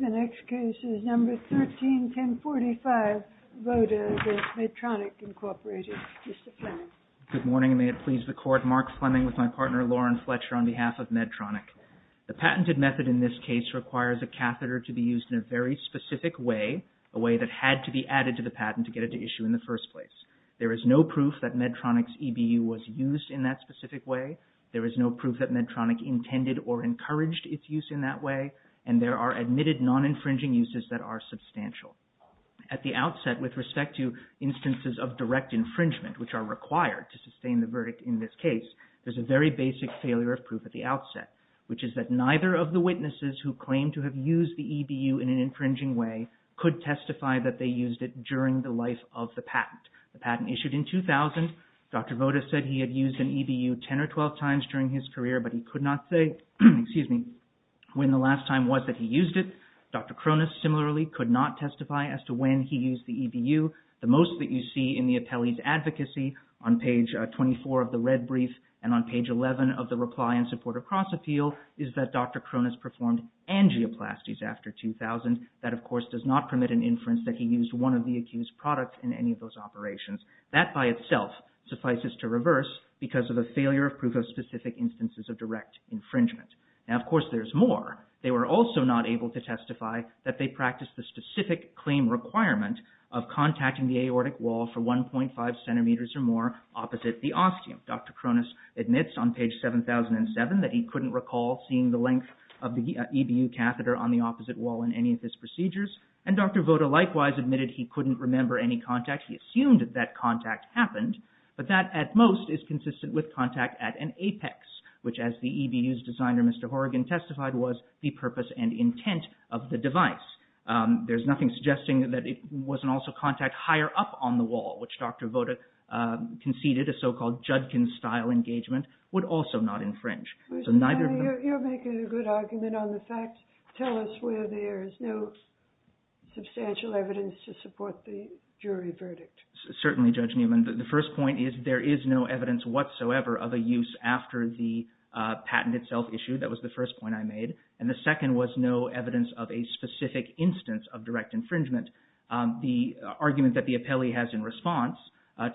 Good morning and may it please the Court, Mark Fleming with my partner Lauren Fletcher on behalf of MEDTRONIC. The patented method in this case requires a catheter to be used in a very specific way, a way that had to be added to the patent to get it to issue in the first place. There is no proof that MEDTRONIC's EBU was used in that specific way. There is no proof that MEDTRONIC intended or encouraged its use in that way. There are admitted non-infringing uses that are substantial. At the outset, with respect to instances of direct infringement, which are required to sustain the verdict in this case, there is a very basic failure of proof at the outset, which is that neither of the witnesses who claimed to have used the EBU in an infringing way could testify that they used it during the life of the patent. The patent issued in 2000, Dr. Voda said he had used an EBU 10 or 12 times during his career. When the last time was that he used it, Dr. Cronus similarly could not testify as to when he used the EBU. The most that you see in the appellee's advocacy on page 24 of the red brief and on page 11 of the reply in support of cross-appeal is that Dr. Cronus performed angioplasties after 2000. That, of course, does not permit an inference that he used one of the accused products in any of those operations. That by itself suffices to reverse because of a failure of proof of specific instances of direct infringement. Now, of course, there's more. They were also not able to testify that they practiced the specific claim requirement of contacting the aortic wall for 1.5 centimeters or more opposite the ostium. Dr. Cronus admits on page 7007 that he couldn't recall seeing the length of the EBU catheter on the opposite wall in any of his procedures, and Dr. Voda likewise admitted he couldn't remember any contact. He assumed that contact happened, but that at most is consistent with contact at an apex, which, as the EBU's designer, Mr. Horrigan, testified was the purpose and intent of the device. There's nothing suggesting that it wasn't also contact higher up on the wall, which Dr. Voda conceded a so-called Judkin-style engagement would also not infringe. So neither of them... You're making a good argument on the fact. Tell us where there is no substantial evidence to support the jury verdict. Certainly, Judge Newman. The first point is there is no evidence whatsoever of a use after the patent itself issued. That was the first point I made. And the second was no evidence of a specific instance of direct infringement. The argument that the appellee has in response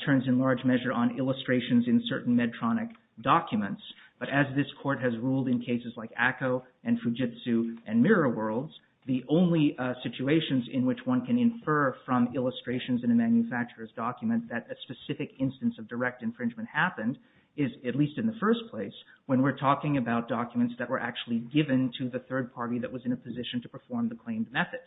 turns in large measure on illustrations in certain Medtronic documents. But as this court has ruled in cases like ACCO and Fujitsu and Mirror Worlds, the only situations in which one can infer from illustrations in a manufacturer's document that a specific instance of direct infringement happened is, at least in the first place, when we're talking about documents that were actually given to the third party that was in a position to perform the claimed method.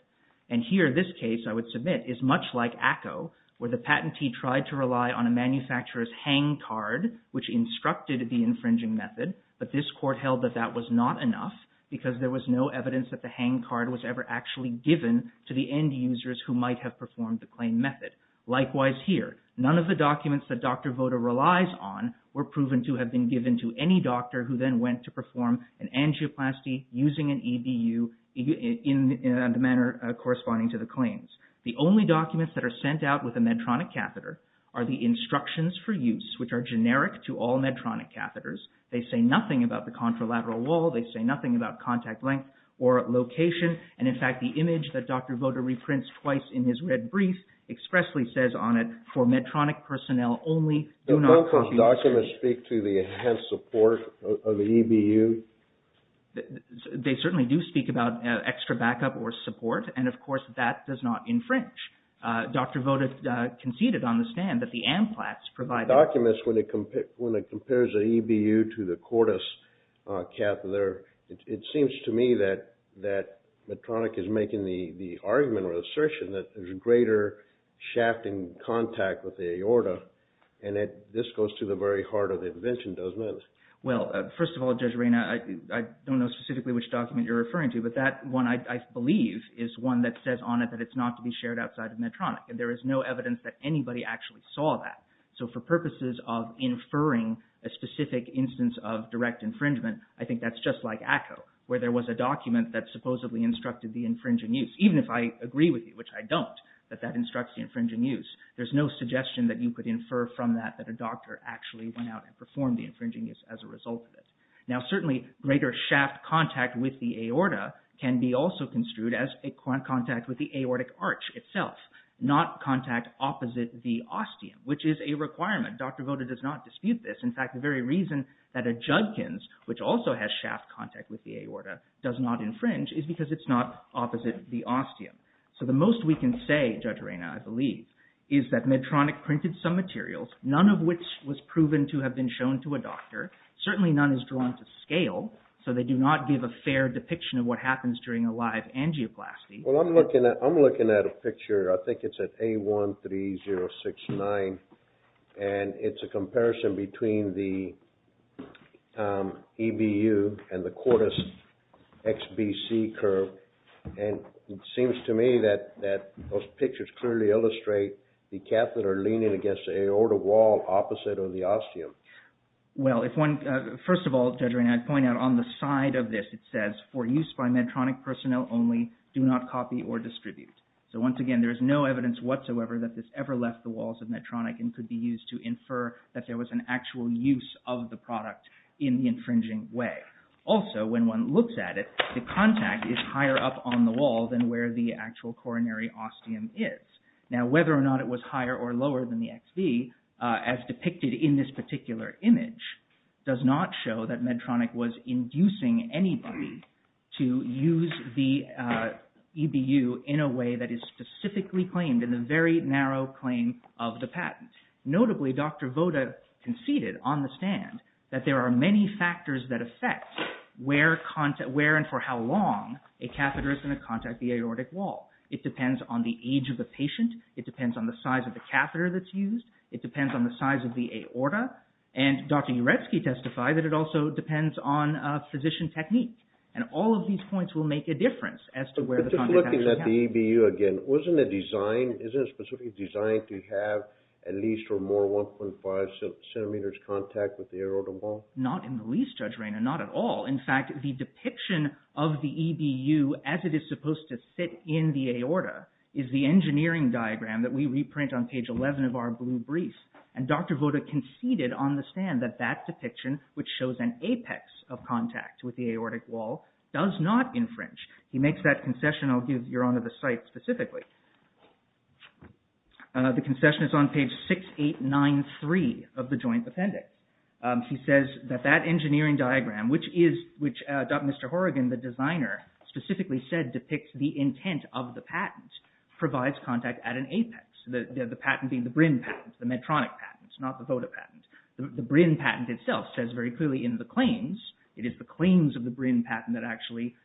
And here, this case, I would submit, is much like ACCO, where the patentee tried to rely on a manufacturer's hang card, which instructed the infringing method, but this court held that that was not enough because there was no evidence that the hang card was ever actually given to the end users who might have performed the claimed method. Likewise here, none of the documents that Dr. Voda relies on were proven to have been given to any doctor who then went to perform an angioplasty using an EDU in the manner corresponding to the claims. The only documents that are sent out with a Medtronic catheter are the instructions for use, which are generic to all Medtronic catheters. They say nothing about the contralateral wall. They say nothing about contact length or location. And, in fact, the image that Dr. Voda reprints twice in his red brief expressly says on it, for Medtronic personnel only, do not confuse... So don't those documents speak to the enhanced support of the EDU? They certainly do speak about extra backup or support, and, of course, that does not infringe. Dr. Voda conceded on the stand that the AMPLATS provided... There's an EDU to the cortis catheter. It seems to me that Medtronic is making the argument or assertion that there's greater shafting contact with the aorta, and this goes to the very heart of the invention, doesn't it? Well, first of all, Judge Reyna, I don't know specifically which document you're referring to, but that one, I believe, is one that says on it that it's not to be shared outside of Medtronic. And there is no evidence that anybody actually saw that. So for purposes of inferring a specific instance of direct infringement, I think that's just like ACCO, where there was a document that supposedly instructed the infringing use. Even if I agree with you, which I don't, that that instructs the infringing use, there's no suggestion that you could infer from that that a doctor actually went out and performed the infringing use as a result of it. Now certainly greater shaft contact with the aorta can be also construed as a contact with the aortic arch itself, not contact opposite the ostium, which is a requirement. Dr. Voda does not dispute this. In fact, the very reason that a Judkins, which also has shaft contact with the aorta, does not infringe is because it's not opposite the ostium. So the most we can say, Judge Reyna, I believe, is that Medtronic printed some materials, none of which was proven to have been shown to a doctor. Certainly none is drawn to scale, so they do not give a fair depiction of what happens during a live angioplasty. Well, I'm looking at a picture, I think it's at A13069, and it's a comparison between the EBU and the cortis XBC curve, and it seems to me that those pictures clearly illustrate the catheter leaning against the aorta wall opposite of the ostium. Well, if one, first of all, Judge Reyna, I'd point out on the side of this it says, for use by Medtronic personnel only, do not copy or distribute. So once again, there is no evidence whatsoever that this ever left the walls of Medtronic and could be used to infer that there was an actual use of the product in the infringing way. Also, when one looks at it, the contact is higher up on the wall than where the actual coronary ostium is. Now whether or not it was higher or lower than the XB, as depicted in this particular image, does not show that Medtronic was inducing anybody to use the EBU in a way that is specifically claimed in the very narrow claim of the patent. Notably, Dr. Voda conceded on the stand that there are many factors that affect where and for how long a catheter is going to contact the aortic wall. It depends on the age of the patient, it depends on the size of the catheter that's used, it And Dr. Uretsky testified that it also depends on physician technique, and all of these points will make a difference as to where the contact actually happened. But just looking at the EBU again, wasn't it designed, isn't it specifically designed to have at least or more 1.5 centimeters contact with the aorta wall? Not in the least, Judge Raynor, not at all. In fact, the depiction of the EBU as it is supposed to sit in the aorta is the engineering diagram that we reprint on page 11 of our blue brief, and Dr. Voda conceded on the stand that that depiction, which shows an apex of contact with the aortic wall, does not infringe. He makes that concession, I'll give your Honor the site specifically. The concession is on page 6893 of the joint appendix. He says that that engineering diagram, which Dr. Mr. Horrigan, the designer, specifically said depicts the intent of the patent, provides contact at an apex. The patent being the BRIN patent, the Medtronic patent, not the Voda patent. The BRIN patent itself says very clearly in the claims, it is the claims of the BRIN patent that actually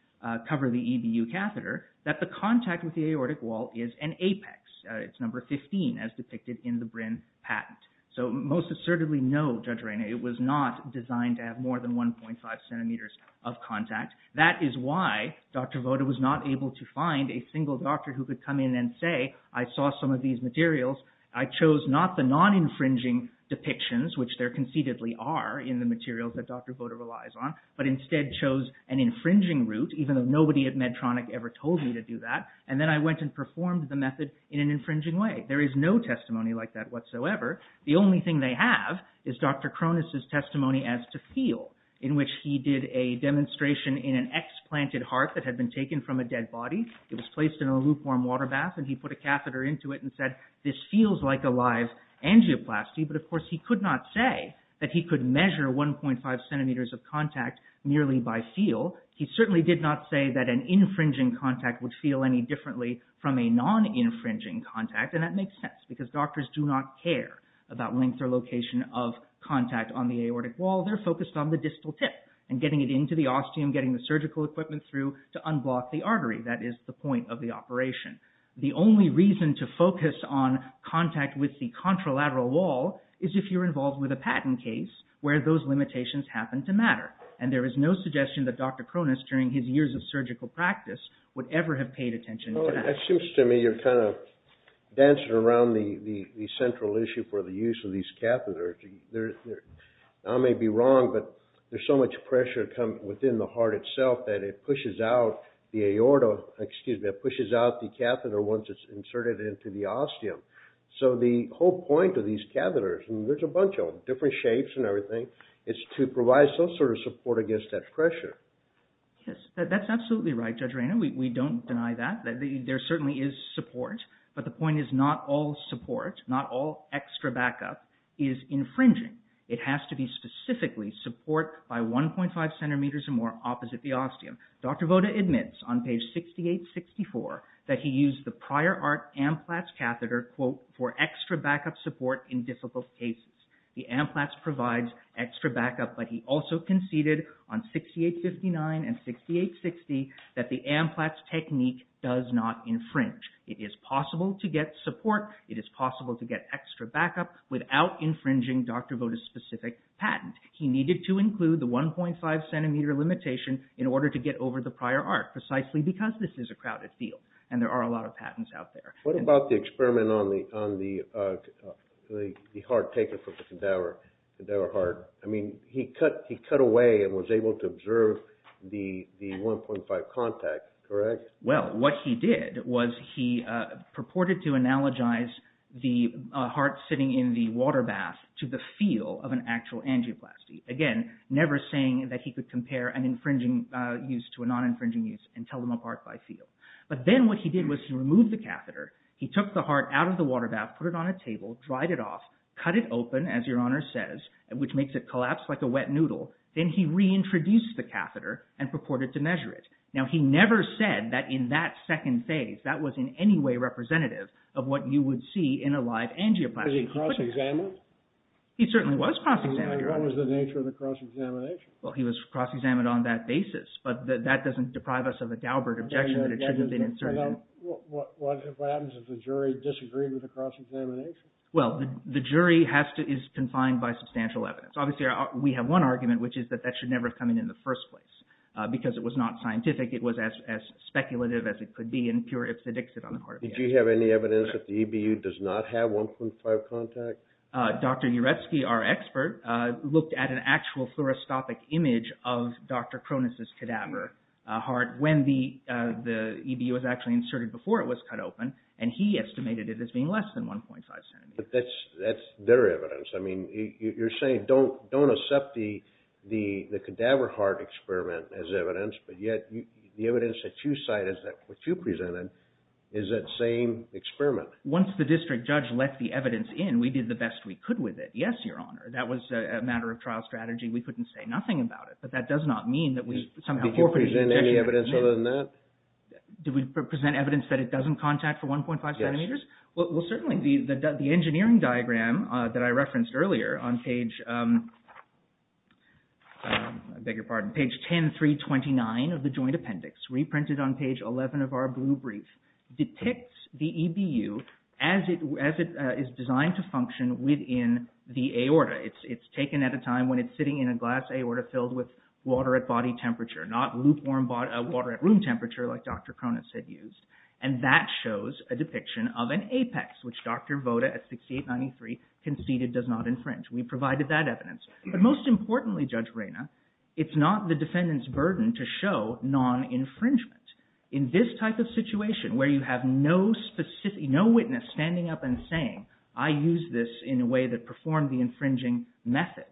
cover the EBU catheter, that the contact with the aortic wall is an apex. It's number 15 as depicted in the BRIN patent. So most assertively, no, Judge Raynor, it was not designed to have more than 1.5 centimeters of contact. That is why Dr. Voda was not able to find a single doctor who could come in and say, I saw some of these materials, I chose not the non-infringing depictions, which there conceitedly are in the materials that Dr. Voda relies on, but instead chose an infringing route, even though nobody at Medtronic ever told me to do that, and then I went and performed the method in an infringing way. There is no testimony like that whatsoever. The only thing they have is Dr. Cronus' testimony as to feel, in which he did a demonstration in an explanted heart that had been taken from a dead body. It was placed in a lukewarm water bath, and he put a catheter into it and said, this feels like a live angioplasty, but of course he could not say that he could measure 1.5 centimeters of contact merely by feel. He certainly did not say that an infringing contact would feel any differently from a non-infringing contact, and that makes sense, because doctors do not care about length or location of contact on the aortic wall. They're focused on the distal tip, and getting it into the ostium, getting the surgical equipment through to unblock the artery. That is the point of the operation. The only reason to focus on contact with the contralateral wall is if you're involved with a patent case where those limitations happen to matter, and there is no suggestion that Dr. Cronus, during his years of surgical practice, would ever have paid attention to that. It seems to me you're kind of dancing around the central issue for the use of these catheters. I may be wrong, but there's so much pressure coming within the heart itself that it pushes out the aorta, excuse me, it pushes out the catheter once it's inserted into the ostium. So the whole point of these catheters, and there's a bunch of them, different shapes and everything, is to provide some sort of support against that pressure. Yes, that's absolutely right, Judge Rayner. We don't deny that. There certainly is support, but the point is not all support, not all extra backup is infringing. It has to be specifically support by 1.5 centimeters or more opposite the ostium. Dr. Voda admits on page 6864 that he used the prior art AMPLATS catheter, quote, for extra backup support in difficult cases. The AMPLATS provides extra backup, but he also conceded on 6859 and 6860 that the AMPLATS technique does not infringe. It is possible to get support, it is possible to get extra backup without infringing Dr. Voda's specific patent. He needed to include the 1.5 centimeter limitation in order to get over the prior art, precisely because this is a crowded field and there are a lot of patents out there. What about the experiment on the heart taken from the cadaver heart? I mean, he cut away and was able to observe the 1.5 contact, correct? Well, what he did was he purported to analogize the heart sitting in the water bath to the feel of an actual angioplasty. Again, never saying that he could compare an infringing use to a non-infringing use and tell them apart by feel. But then what he did was he removed the catheter, he took the heart out of the water bath, put it on a table, dried it off, cut it open, as your honor says, which makes it collapse like a wet noodle, then he reintroduced the catheter and purported to measure it. Now, he never said that in that second phase, that was in any way representative of what you would see in a live angioplasty. Was he cross-examined? He certainly was cross-examined, your honor. And what was the nature of the cross-examination? Well, he was cross-examined on that basis, but that doesn't deprive us of a Daubert objection that it should have been inserted in. What happens if the jury disagreed with the cross-examination? Well, the jury is confined by substantial evidence. Obviously, we have one argument, which is that that should never have come in in the first place, because it was not scientific. It was as speculative as it could be, and pure ipsedixib on the heart of the animal. Did you have any evidence that the EBU does not have 1.5 contact? Dr. Uretsky, our expert, looked at an actual fluoroscopic image of Dr. Cronus's cadaver heart when the EBU was actually inserted before it was cut open, and he estimated it as being less than 1.5 centimeters. That's bitter evidence. I mean, you're saying don't accept the cadaver heart experiment as evidence, but yet the evidence that you cite is that what you presented is that same experiment. Once the district judge let the evidence in, we did the best we could with it. Yes, Your Honor, that was a matter of trial strategy. We couldn't say nothing about it, but that does not mean that we somehow forfeited the objection. Did you present any evidence other than that? Did we present evidence that it doesn't contact for 1.5 centimeters? Yes. Well, certainly, the engineering diagram that I referenced earlier on page 10329 of the Joint Appendix, reprinted on page 11 of our blue brief, depicts the EBU as it is designed to function within the aorta. It's taken at a time when it's sitting in a glass aorta filled with water at body temperature, not lukewarm water at room temperature like Dr. Cronus had used, and that shows a depiction of an apex, which Dr. Voda at 6893 conceded does not infringe. We provided that evidence, but most importantly, Judge Reyna, it's not the defendant's burden to show non-infringement. In this type of situation, where you have no witness standing up and saying, I used this in a way that performed the infringing method,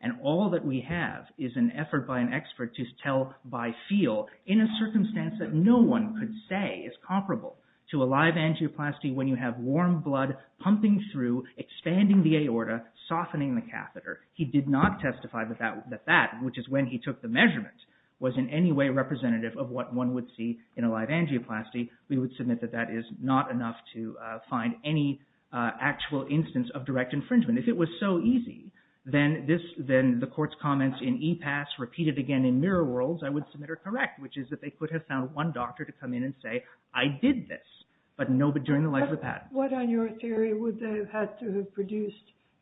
and all that we have is an effort by an expert to tell by feel in a circumstance that no one could say is comparable to a live angioplasty when you have warm blood pumping through, expanding the aorta, softening the catheter. He did not testify that that, which is when he took the measurement, was in any way representative of what one would see in a live angioplasty. We would submit that that is not enough to find any actual instance of direct infringement. If it was so easy, then the court's comments in E-pass repeated again in mirror worlds, I would submit are correct, which is that they could have found one doctor to come in and say, I did this, but during the life of the patent. What on your theory would they have had to have produced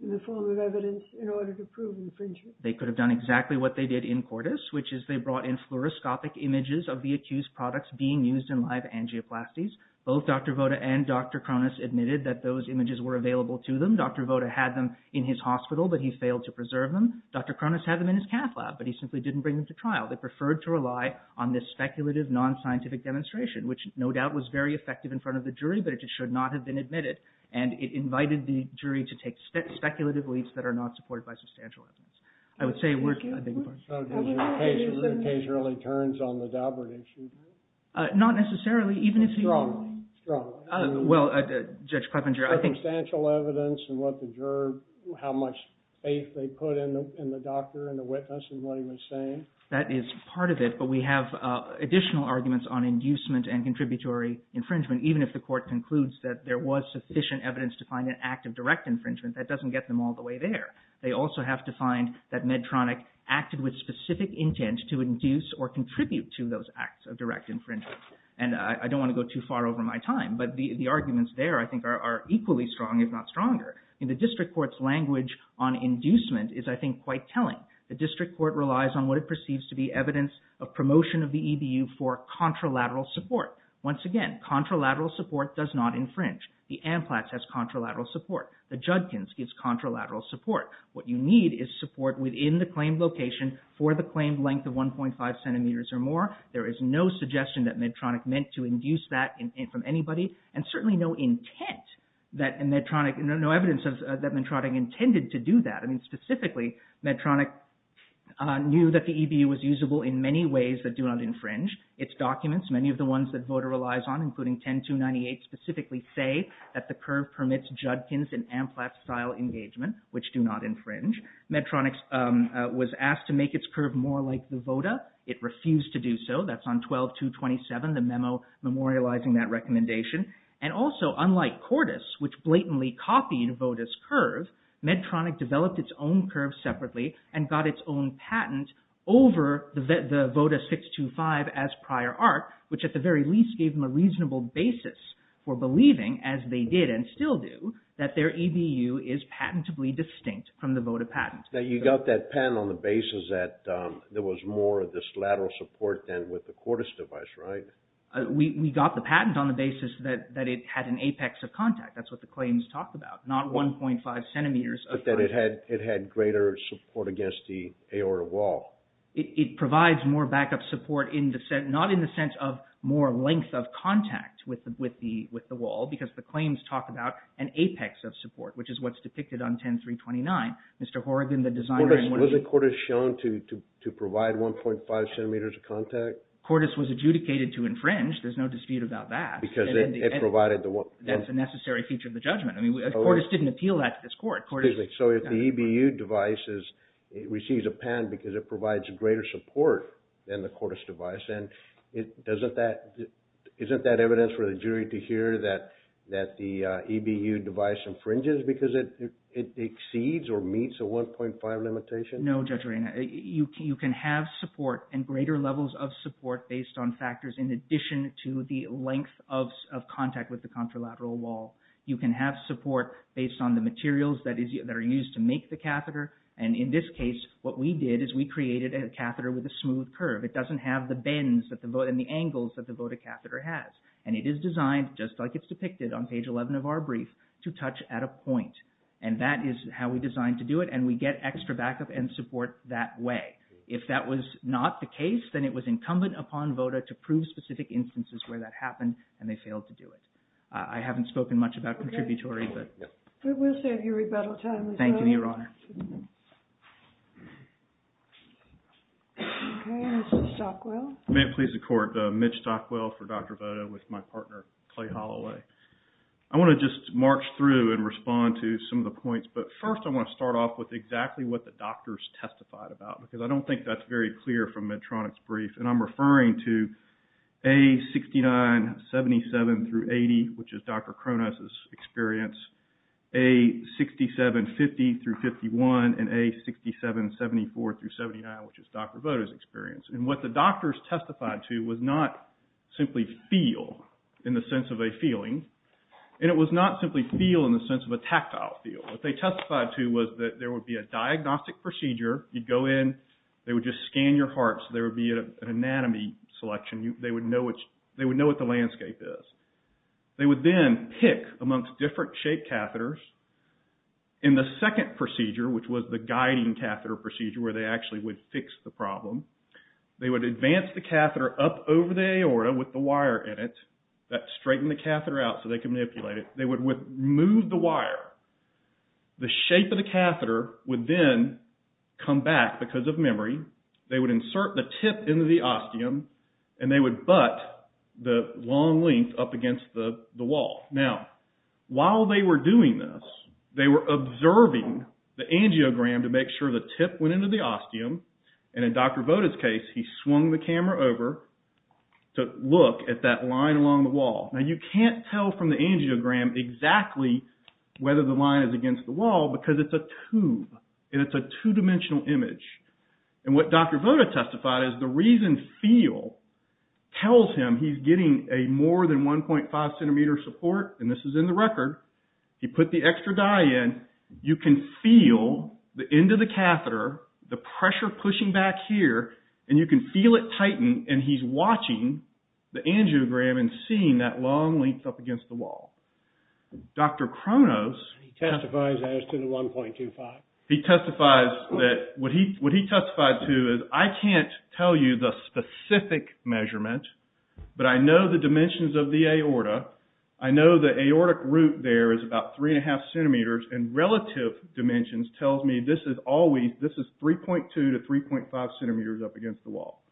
in the form of evidence in order to prove infringement? They could have done exactly what they did in Cordis, which is they brought in fluoroscopic images of the accused products being used in live angioplasties. Both Dr. Voda and Dr. Cronus admitted that those images were available to them. Dr. Voda had them in his hospital, but he failed to preserve them. Dr. Cronus had them in his cath lab, but he simply didn't bring them to trial. They preferred to rely on this speculative, non-scientific demonstration, which no doubt was very effective in front of the jury, but it should not have been admitted. And it invited the jury to take speculative leads that are not supported by substantial evidence. I would say we're... The case really turns on the Daubert issue, right? Not necessarily, even if you all... Strongly, strongly. Well, Judge Kleppinger, I think... Substantial evidence and what the juror... How much faith they put in the doctor and the witness and what he was saying. That is part of it, but we have additional arguments on inducement and contributory infringement. Even if the court concludes that there was sufficient evidence to find an act of direct infringement, that doesn't get them all the way there. They also have to find that Medtronic acted with specific intent to induce or contribute to those acts of direct infringement. And I don't want to go too far over my time, but the arguments there, I think, are equally strong, if not stronger. The district court's language on inducement is, I think, quite telling. The district court relies on what it perceives to be evidence of promotion of the EBU for contralateral support. Once again, contralateral support does not infringe. The Amplax has contralateral support. The Judkins gives contralateral support. What you need is support within the claimed location for the claimed length of 1.5 centimeters or more. There is no suggestion that Medtronic meant to induce that from anybody, and certainly no intent that Medtronic... No evidence that Medtronic intended to do that. Specifically, Medtronic knew that the EBU was usable in many ways that do not infringe. Its documents, many of the ones that VOTA relies on, including 10298, specifically say that the curve permits Judkins and Amplax-style engagement, which do not infringe. Medtronic was asked to make its curve more like the VOTA. It refused to do so. That's on 12-227, the memo memorializing that recommendation. Also, unlike Cordis, which blatantly copied VOTA's curve, Medtronic developed its own curve separately and got its own patent over the VOTA 625 as prior art, which at the very least gave them a reasonable basis for believing, as they did and still do, that their EBU is patentably distinct from the VOTA patent. You got that patent on the basis that there was more of this lateral support than with the Cordis device, right? We got the patent on the basis that it had an apex of contact. That's what the claims talk about, not 1.5 centimeters of contact. But that it had greater support against the aorta wall. It provides more backup support, not in the sense of more length of contact with the wall, because the claims talk about an apex of support, which is what's depicted on 10329. Mr. Horrigan, the designer... Cordis was adjudicated to infringe. There's no dispute about that. Because it provided the... That's a necessary feature of the judgment. I mean, Cordis didn't appeal that to this court. So if the EBU device receives a patent because it provides greater support than the Cordis device, isn't that evidence for the jury to hear that the EBU device infringes because it exceeds or meets a 1.5 limitation? No, Judge Arena. You can have support and greater levels of support based on factors in addition to the length of contact with the contralateral wall. You can have support based on the materials that are used to make the catheter. And in this case, what we did is we created a catheter with a smooth curve. It doesn't have the bends and the angles that the Voda catheter has. And it is designed, just like it's depicted on page 11 of our brief, to touch at a point. And that is how we designed to do it. And we get extra backup and support that way. If that was not the case, then it was incumbent upon Voda to prove specific instances where that happened, and they failed to do it. I haven't spoken much about contributory, but... We'll save you rebuttal time as well. Thank you, Your Honor. Okay. Mr. Stockwell. May it please the Court. Mitch Stockwell for Dr. Voda with my partner, Clay Holloway. I want to just march through and respond to some of the points, but first I want to start off with exactly what the doctors testified about, because I don't think that's very clear from Medtronic's brief. And I'm referring to A69-77-80, which is Dr. Cronus's experience, A67-50-51, and A67-74-79, which is Dr. Voda's experience. And what the doctors testified to was not simply feel, in the sense of a feeling, and it was not simply feel in the sense of a tactile feel. What they testified to was that there would be a diagnostic procedure. You'd go in. They would just scan your heart, so there would be an anatomy selection. They would know what the landscape is. They would then pick amongst different shaped catheters. In the second procedure, which was the guiding catheter procedure, where they actually would fix the problem, they would advance the catheter up over the aorta with the wire in it. That straightened the catheter out so they could manipulate it. They would remove the wire. The shape of the catheter would then come back because of memory. They would insert the tip into the ostium, and they would butt the long length up against the wall. Now, while they were doing this, they were observing the angiogram to make sure the tip went into the ostium, and in Dr. Voda's case, he swung the camera over to look at that line along the wall. Now, you can't tell from the angiogram exactly whether the line is against the wall because it's a tube, and it's a two-dimensional image. What Dr. Voda testified is the reason feel tells him he's getting a more than 1.5 centimeter support, and this is in the record. He put the extra dye in. You can feel the end of the catheter, the pressure pushing back here, and you can feel it tighten, and he's watching the angiogram and seeing that long length up against the wall. Dr. Kronos. He testifies as to the 1.25. He testifies that what he testified to is, I can't tell you the specific measurement, but I know the dimensions of the aorta. I know the aortic root there is about 3.5 centimeters, and relative dimensions tells me this is 3.2 to 3.5 centimeters up against the wall.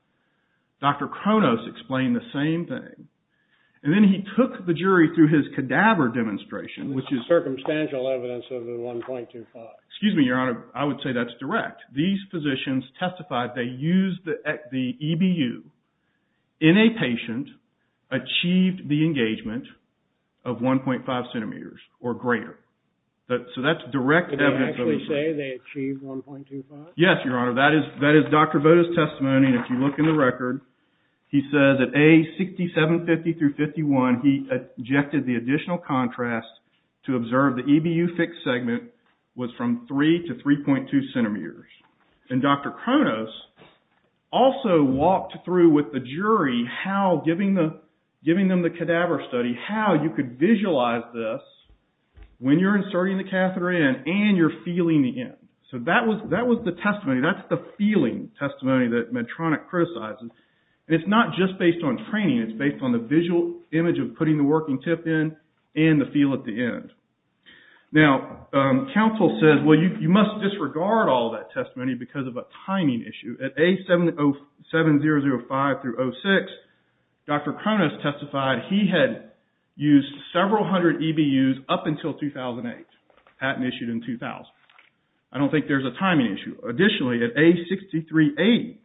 Dr. Kronos explained the same thing, and then he took the jury through his cadaver demonstration, which is circumstantial evidence of the 1.25. Excuse me, Your Honor. I would say that's direct. These physicians testified they used the EBU in a patient, achieved the engagement of 1.5 So, that's direct evidence of the 1.25. Did they actually say they achieved 1.25? Yes, Your Honor. That is Dr. Voda's testimony, and if you look in the record, he says at age 6750-51, he objected the additional contrast to observe the EBU fixed segment was from 3 to 3.2 centimeters. And Dr. Kronos also walked through with the jury how, giving them the cadaver study, how you could visualize this when you're inserting the catheter in and you're feeling the end. So, that was the testimony, that's the feeling testimony that Medtronic criticizes, and it's not just based on training, it's based on the visual image of putting the working tip in and the feel at the end. Now, counsel says, well, you must disregard all that testimony because of a timing issue. At age 7005-06, Dr. Kronos testified he had used several hundred EBUs up until 2008, patent issued in 2000. I don't think there's a timing issue. Additionally, at age 6380,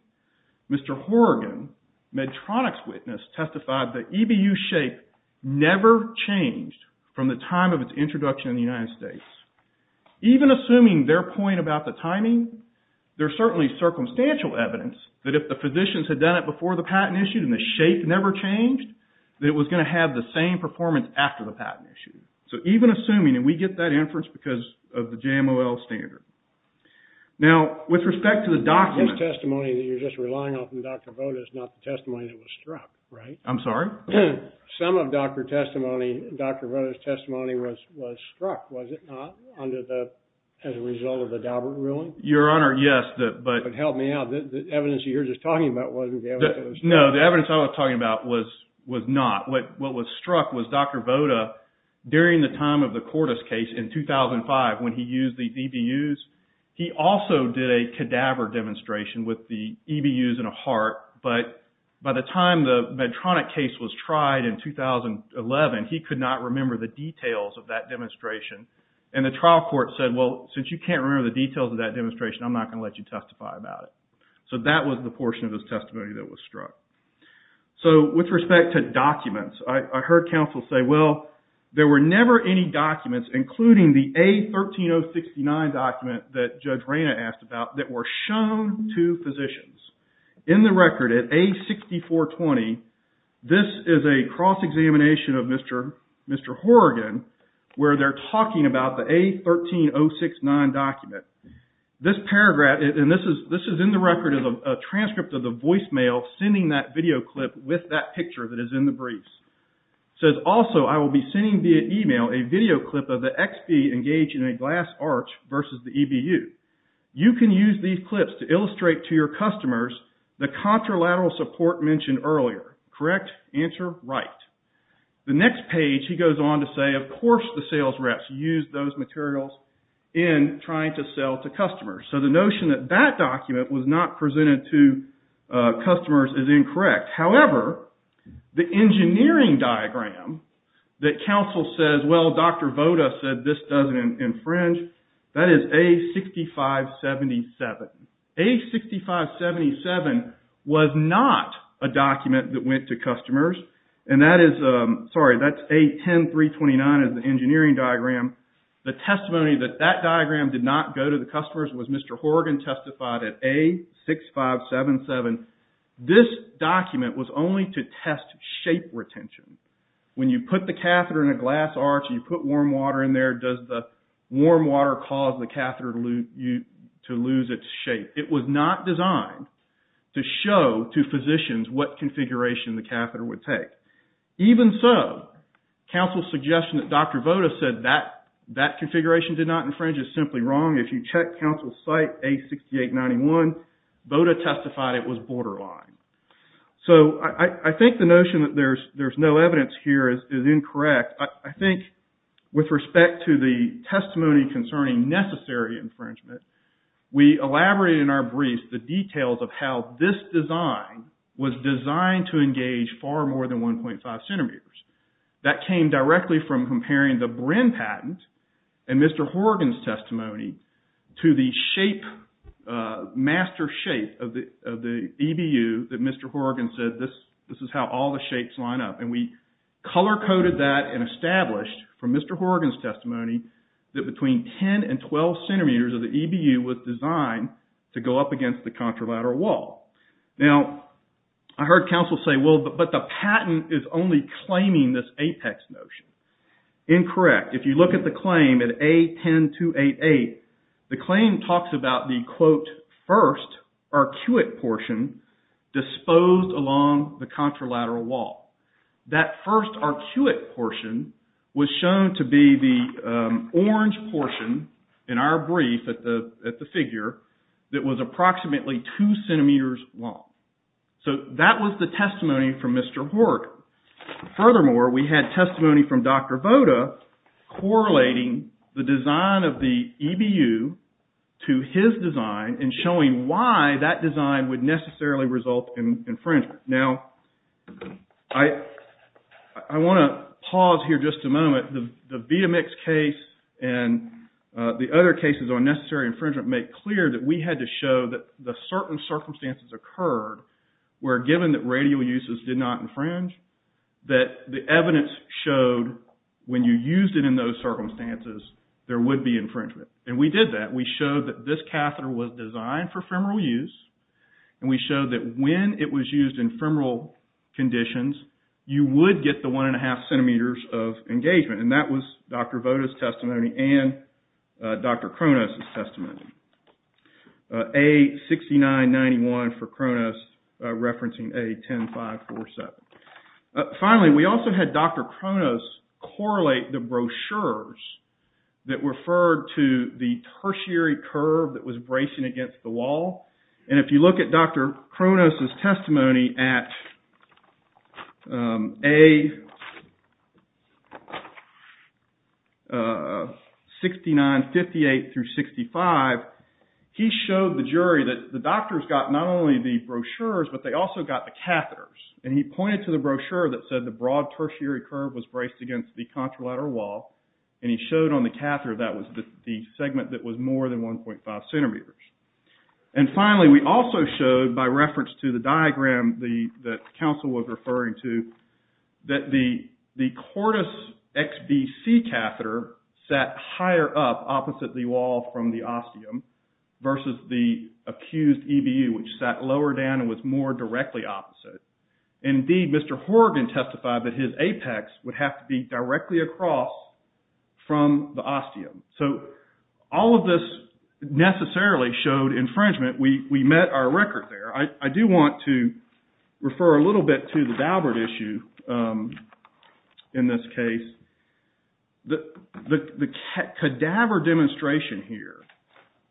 Mr. Horrigan, Medtronic's witness, testified the EBU shape never changed from the time of its introduction in the United States. Even assuming their point about the timing, there's certainly circumstantial evidence that if the physicians had done it before the patent issued and the shape never changed, that it was going to have the same performance after the patent issued. So, even assuming, and we get that inference because of the JMOL standard. Now, with respect to the document... This testimony that you're just relying on from Dr. Voda is not the testimony that was struck, right? I'm sorry? Some of Dr. Voda's testimony was struck, was it not, as a result of the Daubert ruling? Your Honor, yes. But help me out. The evidence you're just talking about wasn't the evidence that was struck. No, the evidence I was talking about was not. What was struck was Dr. Voda, during the time of the Cordis case in 2005, when he used the EBUs, he also did a cadaver demonstration with the EBUs and a heart, but by the time the Medtronic case was tried in 2011, he could not remember the details of that demonstration. And the trial court said, well, since you can't remember the details of that demonstration, I'm not going to let you testify about it. So, that was the portion of his testimony that was struck. So, with respect to documents, I heard counsel say, well, there were never any documents, including the A13069 document that Judge Reyna asked about, that were shown to physicians. In the record, at A6420, this is a cross-examination of Mr. Horrigan, where they're talking about the A13069 document. This paragraph, and this is in the record, is a transcript of the voicemail sending that video clip with that picture that is in the briefs. It says, also, I will be sending via email a video clip of the XB engaged in a glass arch versus the EBU. You can use these clips to illustrate to your customers the contralateral support mentioned earlier. Correct? Answer? Right. The next page, he goes on to say, of course the sales reps used those materials in trying to sell to customers. So, the notion that that document was not presented to customers is incorrect. However, the engineering diagram that counsel says, well, Dr. Voda said this doesn't infringe, that is A6577. A6577 was not a document that went to customers. And that is, sorry, that's A10329 is the engineering diagram. The testimony that that diagram did not go to the customers was Mr. Horrigan testified at A6577. This document was only to test shape retention. When you put the catheter in a glass arch, you put warm water in there, does the warm water cause the catheter to lose its shape? It was not designed to show to physicians what configuration the catheter would take. Even so, counsel's suggestion that Dr. Voda said that, that configuration did not infringe is simply wrong. If you check counsel's site, A6891, Voda testified it was borderline. So, I think the notion that there's no evidence here is incorrect. I think with respect to the testimony concerning necessary infringement, we elaborated in our briefs the details of how this design was designed to engage far more than 1.5 centimeters. That came directly from comparing the Brin patent and Mr. Horrigan's testimony to the master shape of the EBU that Mr. Horrigan said, this is how all the shapes line up. We color-coded that and established from Mr. Horrigan's testimony that between 10 and 12 centimeters of the EBU was designed to go up against the contralateral wall. Now, I heard counsel say, well, but the patent is only claiming this apex notion. Incorrect. If you look at the claim at A10288, the claim talks about the, quote, first arcuate portion disposed along the contralateral wall. That first arcuate portion was shown to be the orange portion in our brief at the figure that was approximately 2 centimeters long. So, that was the testimony from Mr. Horrigan. Furthermore, we had testimony from Dr. Voda, correlating the design of the EBU to his design and showing why that design would necessarily result in infringement. Now, I want to pause here just a moment. The Vitamix case and the other cases on necessary infringement make clear that we had to show that the certain circumstances occurred were given that radial uses did not infringe, that the evidence showed when you used it in those circumstances, there would be infringement. And we did that. We showed that this catheter was designed for femoral use. And we showed that when it was used in femoral conditions, you would get the 1.5 centimeters of engagement. And that was Dr. Voda's testimony and Dr. Kronos' testimony. A6991 for Kronos, referencing A10547. Finally, we also had Dr. Kronos correlate the brochures that referred to the tertiary curve that was bracing against the wall and if you look at Dr. Kronos' testimony at A6958-65, he showed the jury that the doctors got not only the brochures, but they also got the catheters. And he pointed to the brochure that said the broad tertiary curve was braced against the contralateral wall and he showed on the catheter that was the segment that was more than 1.5 centimeters. And finally, we also showed, by reference to the diagram that counsel was referring to, that the cortis XBC catheter sat higher up opposite the wall from the ostium versus the accused EBU, which sat lower down and was more directly opposite. Indeed, Mr. Horgan testified that his apex would have to be directly across from the ostium. So, all of this necessarily showed infringement. We met our record there. I do want to refer a little bit to the Daubert issue in this case. The cadaver demonstration here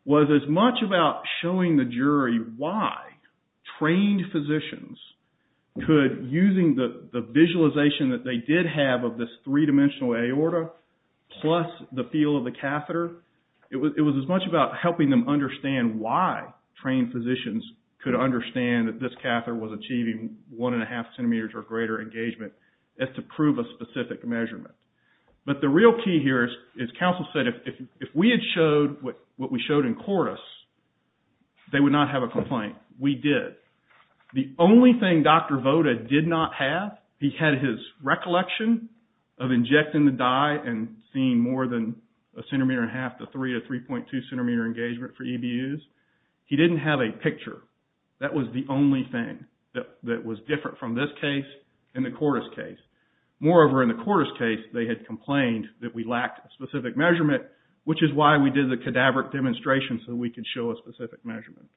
was as much about showing the jury why trained physicians could, using the visualization that they did have of this three-dimensional aorta plus the feel of the catheter, it was as much about helping them understand why trained physicians could understand that this catheter was achieving 1.5 centimeters or greater engagement as to prove a specific measurement. But the real key here is, counsel said, if we had showed what we showed in cortis, they would not have a complaint. We did. The only thing Dr. Voda did not have, he had his recollection of injecting the dye and seeing more than a centimeter and a half to three to 3.2 centimeter engagement for EBUs. He didn't have a picture. That was the only thing that was different from this case and the cortis case. Moreover, in the cortis case, they had complained that we lacked a specific measurement, which is why we did the cadaver demonstration so we could show a specific measurement.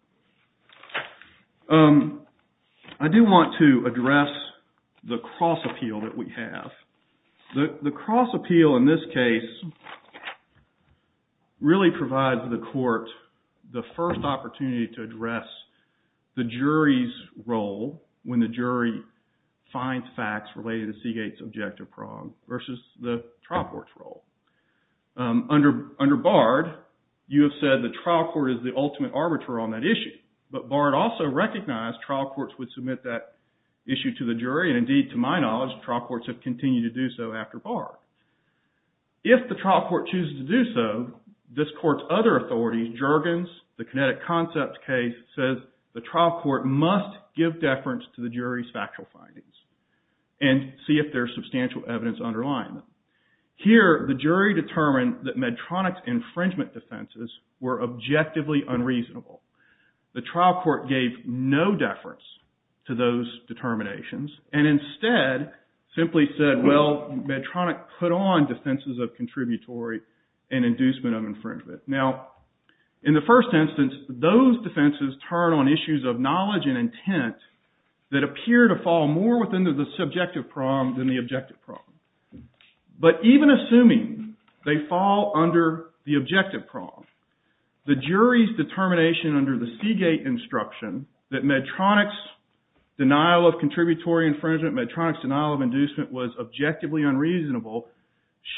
I do want to address the cross appeal that we have. The cross appeal in this case really provides the court the first opportunity to address the jury's role when the jury finds facts related to Seagate's objective prong versus the trial court's role. Under Bard, you have said the trial court is the ultimate arbiter on that issue, but Bard also recognized trial courts would submit that issue to the jury, and indeed, to my knowledge, trial courts have continued to do so after Bard. If the trial court chooses to do so, this court's other authority, Juergens, the kinetic concept case, says the trial court must give deference to the jury's factual findings and see if there's substantial evidence underlying them. Here, the jury determined that Medtronic's defense was objectively unreasonable. The trial court gave no deference to those determinations, and instead, simply said, well, Medtronic put on defenses of contributory and inducement of infringement. Now, in the first instance, those defenses turn on issues of knowledge and intent that appear to fall more within the subjective prong than the objective prong. But even assuming they fall under the objective prong, the jury's determination under the Seagate instruction that Medtronic's denial of contributory infringement, Medtronic's denial of inducement was objectively unreasonable,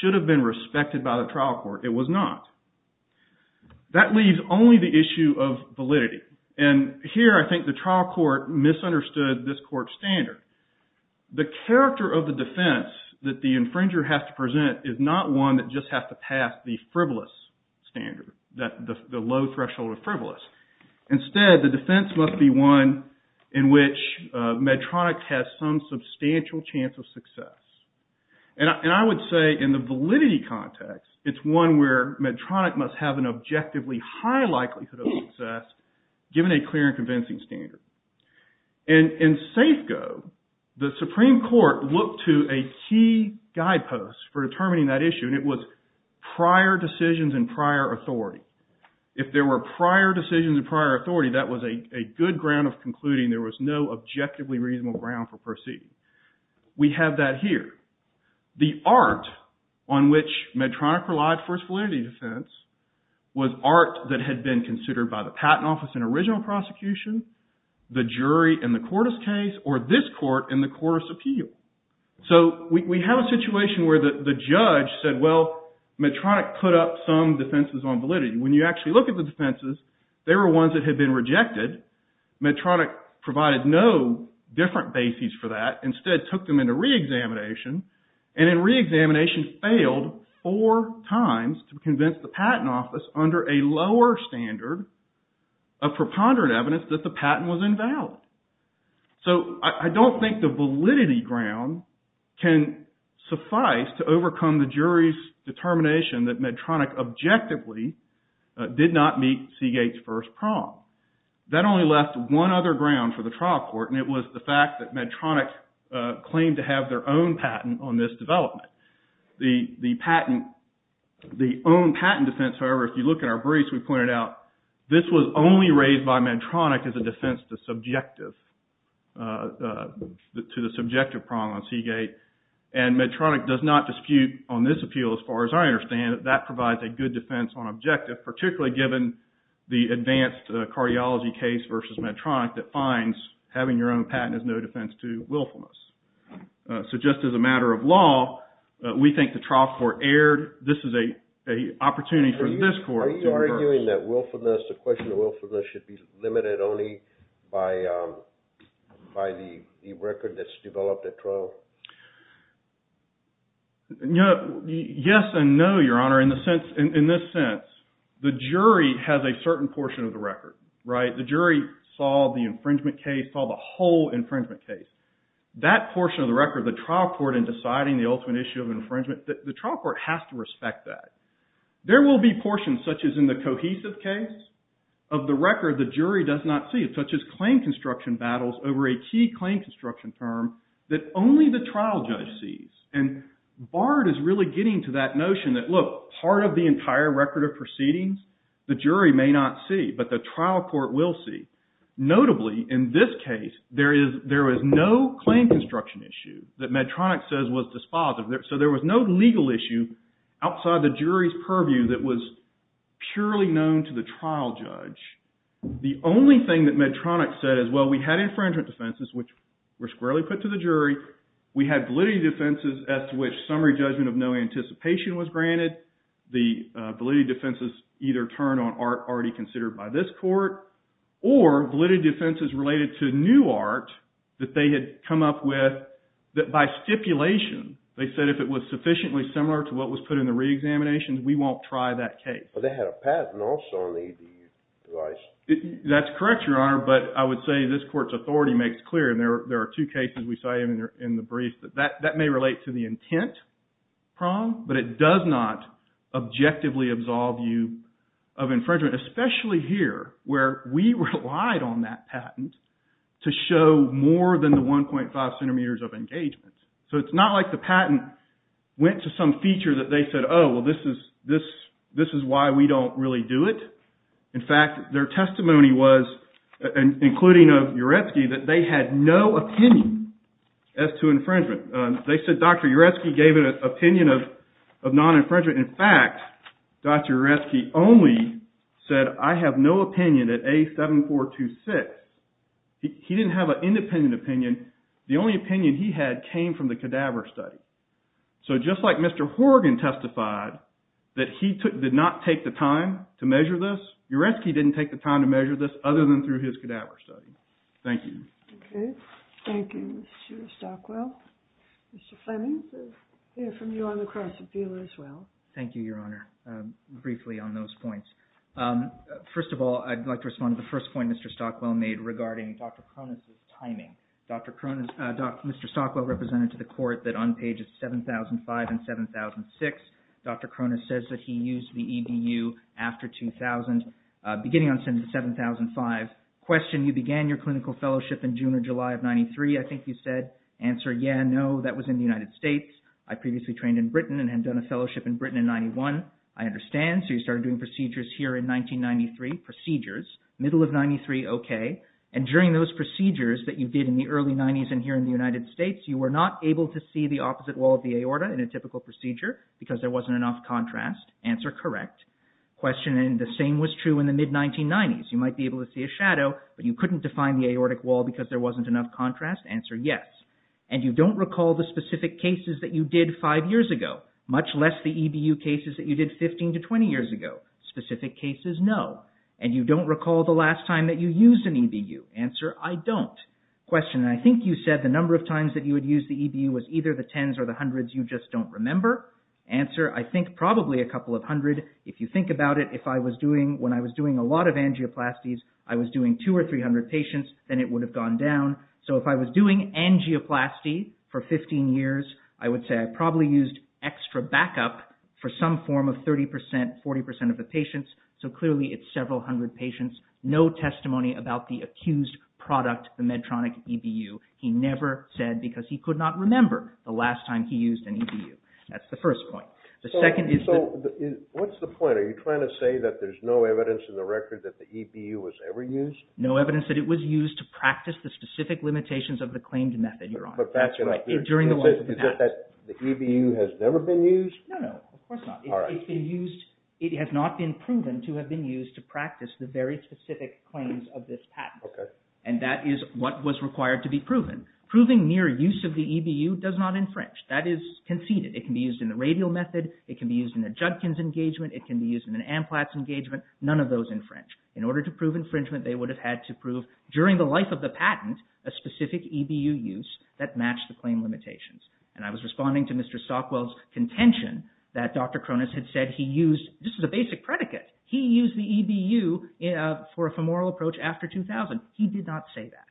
should have been respected by the trial court. It was not. That leaves only the issue of validity, and here, I think the trial court misunderstood this court's standard. The character of the defense that the infringer has to present is not one that just has to pass the frivolous standard, the low threshold of frivolous. Instead, the defense must be one in which Medtronic has some substantial chance of success. And I would say, in the validity context, it's one where Medtronic must have an objectively high likelihood of success, given a clear and convincing standard. And in Safeco, the Supreme Court looked to a key guidepost for determining that issue, and it was prior decisions and prior authority. If there were prior decisions and prior authority, that was a good ground of concluding there was no objectively reasonable ground for proceeding. We have that here. The art on which Medtronic relied for its validity defense was art that had been the jury in the court's case, or this court in the court's appeal. So, we have a situation where the judge said, well, Medtronic put up some defenses on validity. When you actually look at the defenses, they were ones that had been rejected. Medtronic provided no different bases for that. Instead, took them into re-examination, and in re-examination, failed four times to convince the Patent Office under a lower standard of preponderant evidence that the patent was invalid. So, I don't think the validity ground can suffice to overcome the jury's determination that Medtronic objectively did not meet Seagate's first prompt. That only left one other ground for the trial court, and it was the fact that Medtronic The patent, the own This was only raised by Medtronic as a defense to the subjective prong on Seagate, and Medtronic does not dispute on this appeal, as far as I understand it. That provides a good defense on objective, particularly given the advanced cardiology case versus Medtronic that finds having your own patent is no defense to willfulness. So, just as a matter of law, we think the trial court erred. This is a Are you arguing that willfulness, the question of willfulness should be limited only by the record that's developed at trial? Yes and no, Your Honor. In this sense, the jury has a certain portion of the record. The jury saw the infringement case, saw the whole infringement case. That portion of the record, the trial court in deciding the ultimate issue of infringement, the trial court has to respect that. There will be portions, such as in the cohesive case, of the record the jury does not see, such as claim construction battles over a key claim construction term that only the trial judge sees. Bard is really getting to that notion that, look, part of the entire record of proceedings, the jury may not see, but the trial court will see. Notably, in this case, there is no claim construction issue that Medtronic says was dispositive. So there was no legal issue outside the jury's purview that was purely known to the trial judge. The only thing that Medtronic said is, well, we had infringement defenses, which were squarely put to the jury. We had validity defenses as to which summary judgment of no anticipation was granted. The validity defenses either turned on art already considered by this court or validity defenses related to new art that they had come up with that, by stipulation, they said if it was sufficiently similar to what was put in the reexamination, we won't try that case. But they had a patent also on the device. That's correct, Your Honor, but I would say this court's authority makes clear, and there are two cases we cited in the brief, that that may relate to the intent prong, but it does not objectively absolve you of infringement, especially here, where we relied on that patent to show more than the 1.5 centimeters of engagement. So it's not like the patent went to some feature that they said, oh, well, this is why we don't really do it. In fact, their testimony was, including of Uresky, that they had no opinion as to infringement. They said Dr. Uresky gave an opinion of non-infringement. In fact, Dr. Uresky only said, I have no opinion at A7426. He didn't have an independent opinion. The only opinion he had came from the cadaver study. So just like Mr. Horrigan testified that he did not take the time to measure this, Uresky didn't take the time to measure this other than through his cadaver study. Thank you. Thank you, Mr. Stockwell. Mr. Fleming, I hear from you on the cross-appeal as well. Thank you, Your Honor. Briefly on those points. First of all, I'd like to respond to the first point Mr. Stockwell made regarding Dr. Cronus' timing. Mr. Stockwell represented to the court that on pages 7005 and 7006, Dr. Cronus says that he used the EDU after 2000, beginning on sentence 7005. Question, you began your clinical fellowship in June or July of 1991. I understand. So you started doing procedures here in 1993. Procedures. Middle of 1993, okay. And during those procedures that you did in the early 90s and here in the United States, you were not able to see the opposite wall of the aorta in a typical procedure because there wasn't enough contrast. Answer, correct. Question, the same was true in the mid-1990s. You might be able to see a shadow, but you couldn't define the aortic wall because there wasn't enough contrast. Answer, yes. And you don't recall the EDU cases that you did 15 to 20 years ago. Specific cases, no. And you don't recall the last time that you used an EDU. Answer, I don't. Question, I think you said the number of times that you would use the EDU was either the tens or the hundreds. You just don't remember. Answer, I think probably a couple of hundred. If you think about it, if I was doing, when I was doing a lot of angioplasties, I was doing two or three hundred patients, then it would have gone down. So if I was doing angioplasty for 15 years, I would say I probably used extra backup for some form of 30%, 40% of the patients. So clearly it's several hundred patients. No testimony about the accused product, the Medtronic EDU. He never said because he could not remember the last time he used an EDU. That's the first point. The second is... So what's the point? Are you trying to say that there's no evidence in the record that the EDU was ever used? No evidence that it was used to practice the specific Is it that the EDU has never been used? No, of course not. It has not been proven to have been used to practice the very specific claims of this patent. And that is what was required to be proven. Proving mere use of the EDU does not infringe. That is conceded. It can be used in the radial method. It can be used in a Judkins engagement. It can be used in an AMPLATS engagement. None of those infringe. In order to prove infringement, they would have had to prove during the life of claim limitations. And I was responding to Mr. Stockwell's contention that Dr. Cronus had said he used... This is a basic predicate. He used the EDU for a femoral approach after 2000. He did not say that.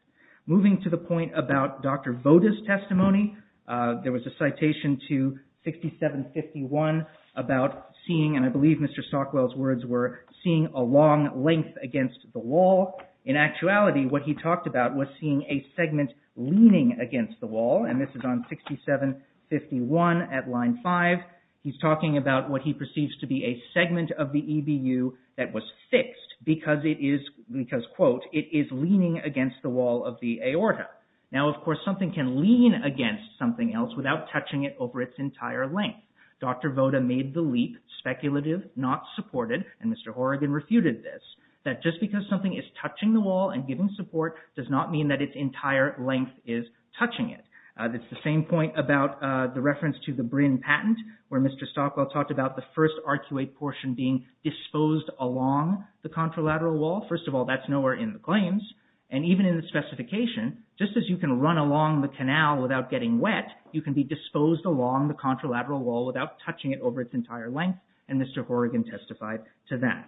Moving to the point about Dr. Voda's testimony, there was a citation to 6751 about seeing, and I believe Mr. Stockwell's words were, seeing a long length against the wall. In actuality, what he talked about was seeing a segment leaning against the wall. And this is on 6751 at line 5. He's talking about what he perceives to be a segment of the EDU that was fixed because it is because, quote, it is leaning against the wall of the aorta. Now, of course, something can lean against something else without touching it over its entire length. Dr. Voda made the leap, speculative, not supported, and Mr. Horrigan refuted this, that just because something is touching the wall and giving support does not mean that its entire length is touching it. It's the same point about the reference to the Brin patent where Mr. Stockwell talked about the first arcuate portion being disposed along the contralateral wall. First of all, that's nowhere in the claims, and even in the specification, just as you can run along the canal without getting wet, you can be disposed along the contralateral wall without touching it over its entire length, and Mr. Horrigan testified to that.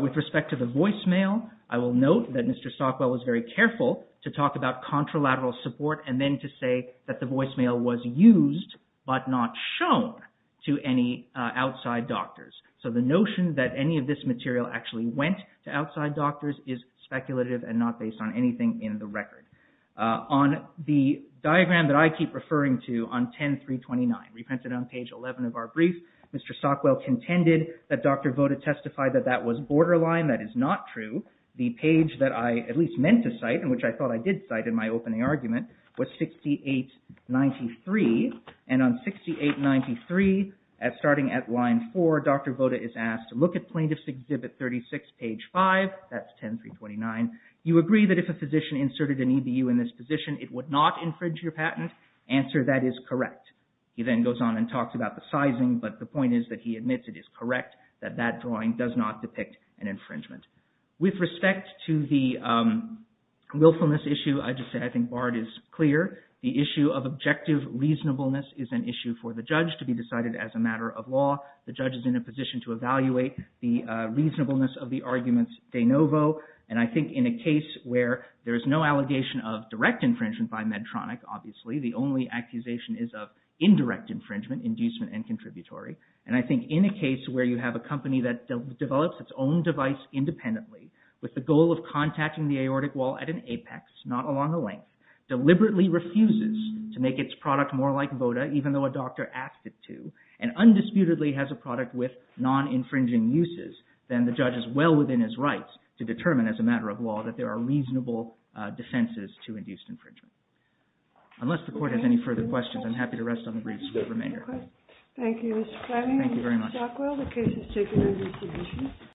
With respect to the voicemail, I will note that Mr. Stockwell was very careful to talk about contralateral support and then to say that the voicemail was used but not shown to any outside doctors. So the notion that any of this material actually went to outside doctors is speculative and not based on anything in the record. On the diagram that I keep referring to on 10329, reprinted on page 11 of our document, Dr. Voda testified that that was borderline. That is not true. The page that I at least meant to cite, and which I thought I did cite in my opening argument, was 6893, and on 6893, starting at line 4, Dr. Voda is asked to look at Plaintiff's Exhibit 36, page 5. That's 10329. You agree that if a physician inserted an EBU in this position, it would not infringe your patent? Answer, that is correct. He then goes on and talks about sizing, but the point is that he admits it is correct, that that drawing does not depict an infringement. With respect to the willfulness issue, I think Bard is clear. The issue of objective reasonableness is an issue for the judge to be decided as a matter of law. The judge is in a position to evaluate the reasonableness of the arguments de novo, and I think in a case where there is no allegation of direct infringement by Medtronic, obviously, the only And I think in a case where you have a company that develops its own device independently, with the goal of contacting the aortic wall at an apex, not along a length, deliberately refuses to make its product more like Voda, even though a doctor asked it to, and undisputedly has a product with non-infringing uses, then the judge is well within his rights to determine as a matter of law that there are reasonable defenses to induced infringement. Unless the Court has any further questions, I'm happy to rest Thank you, Mr. Klemmer. Thank you very much.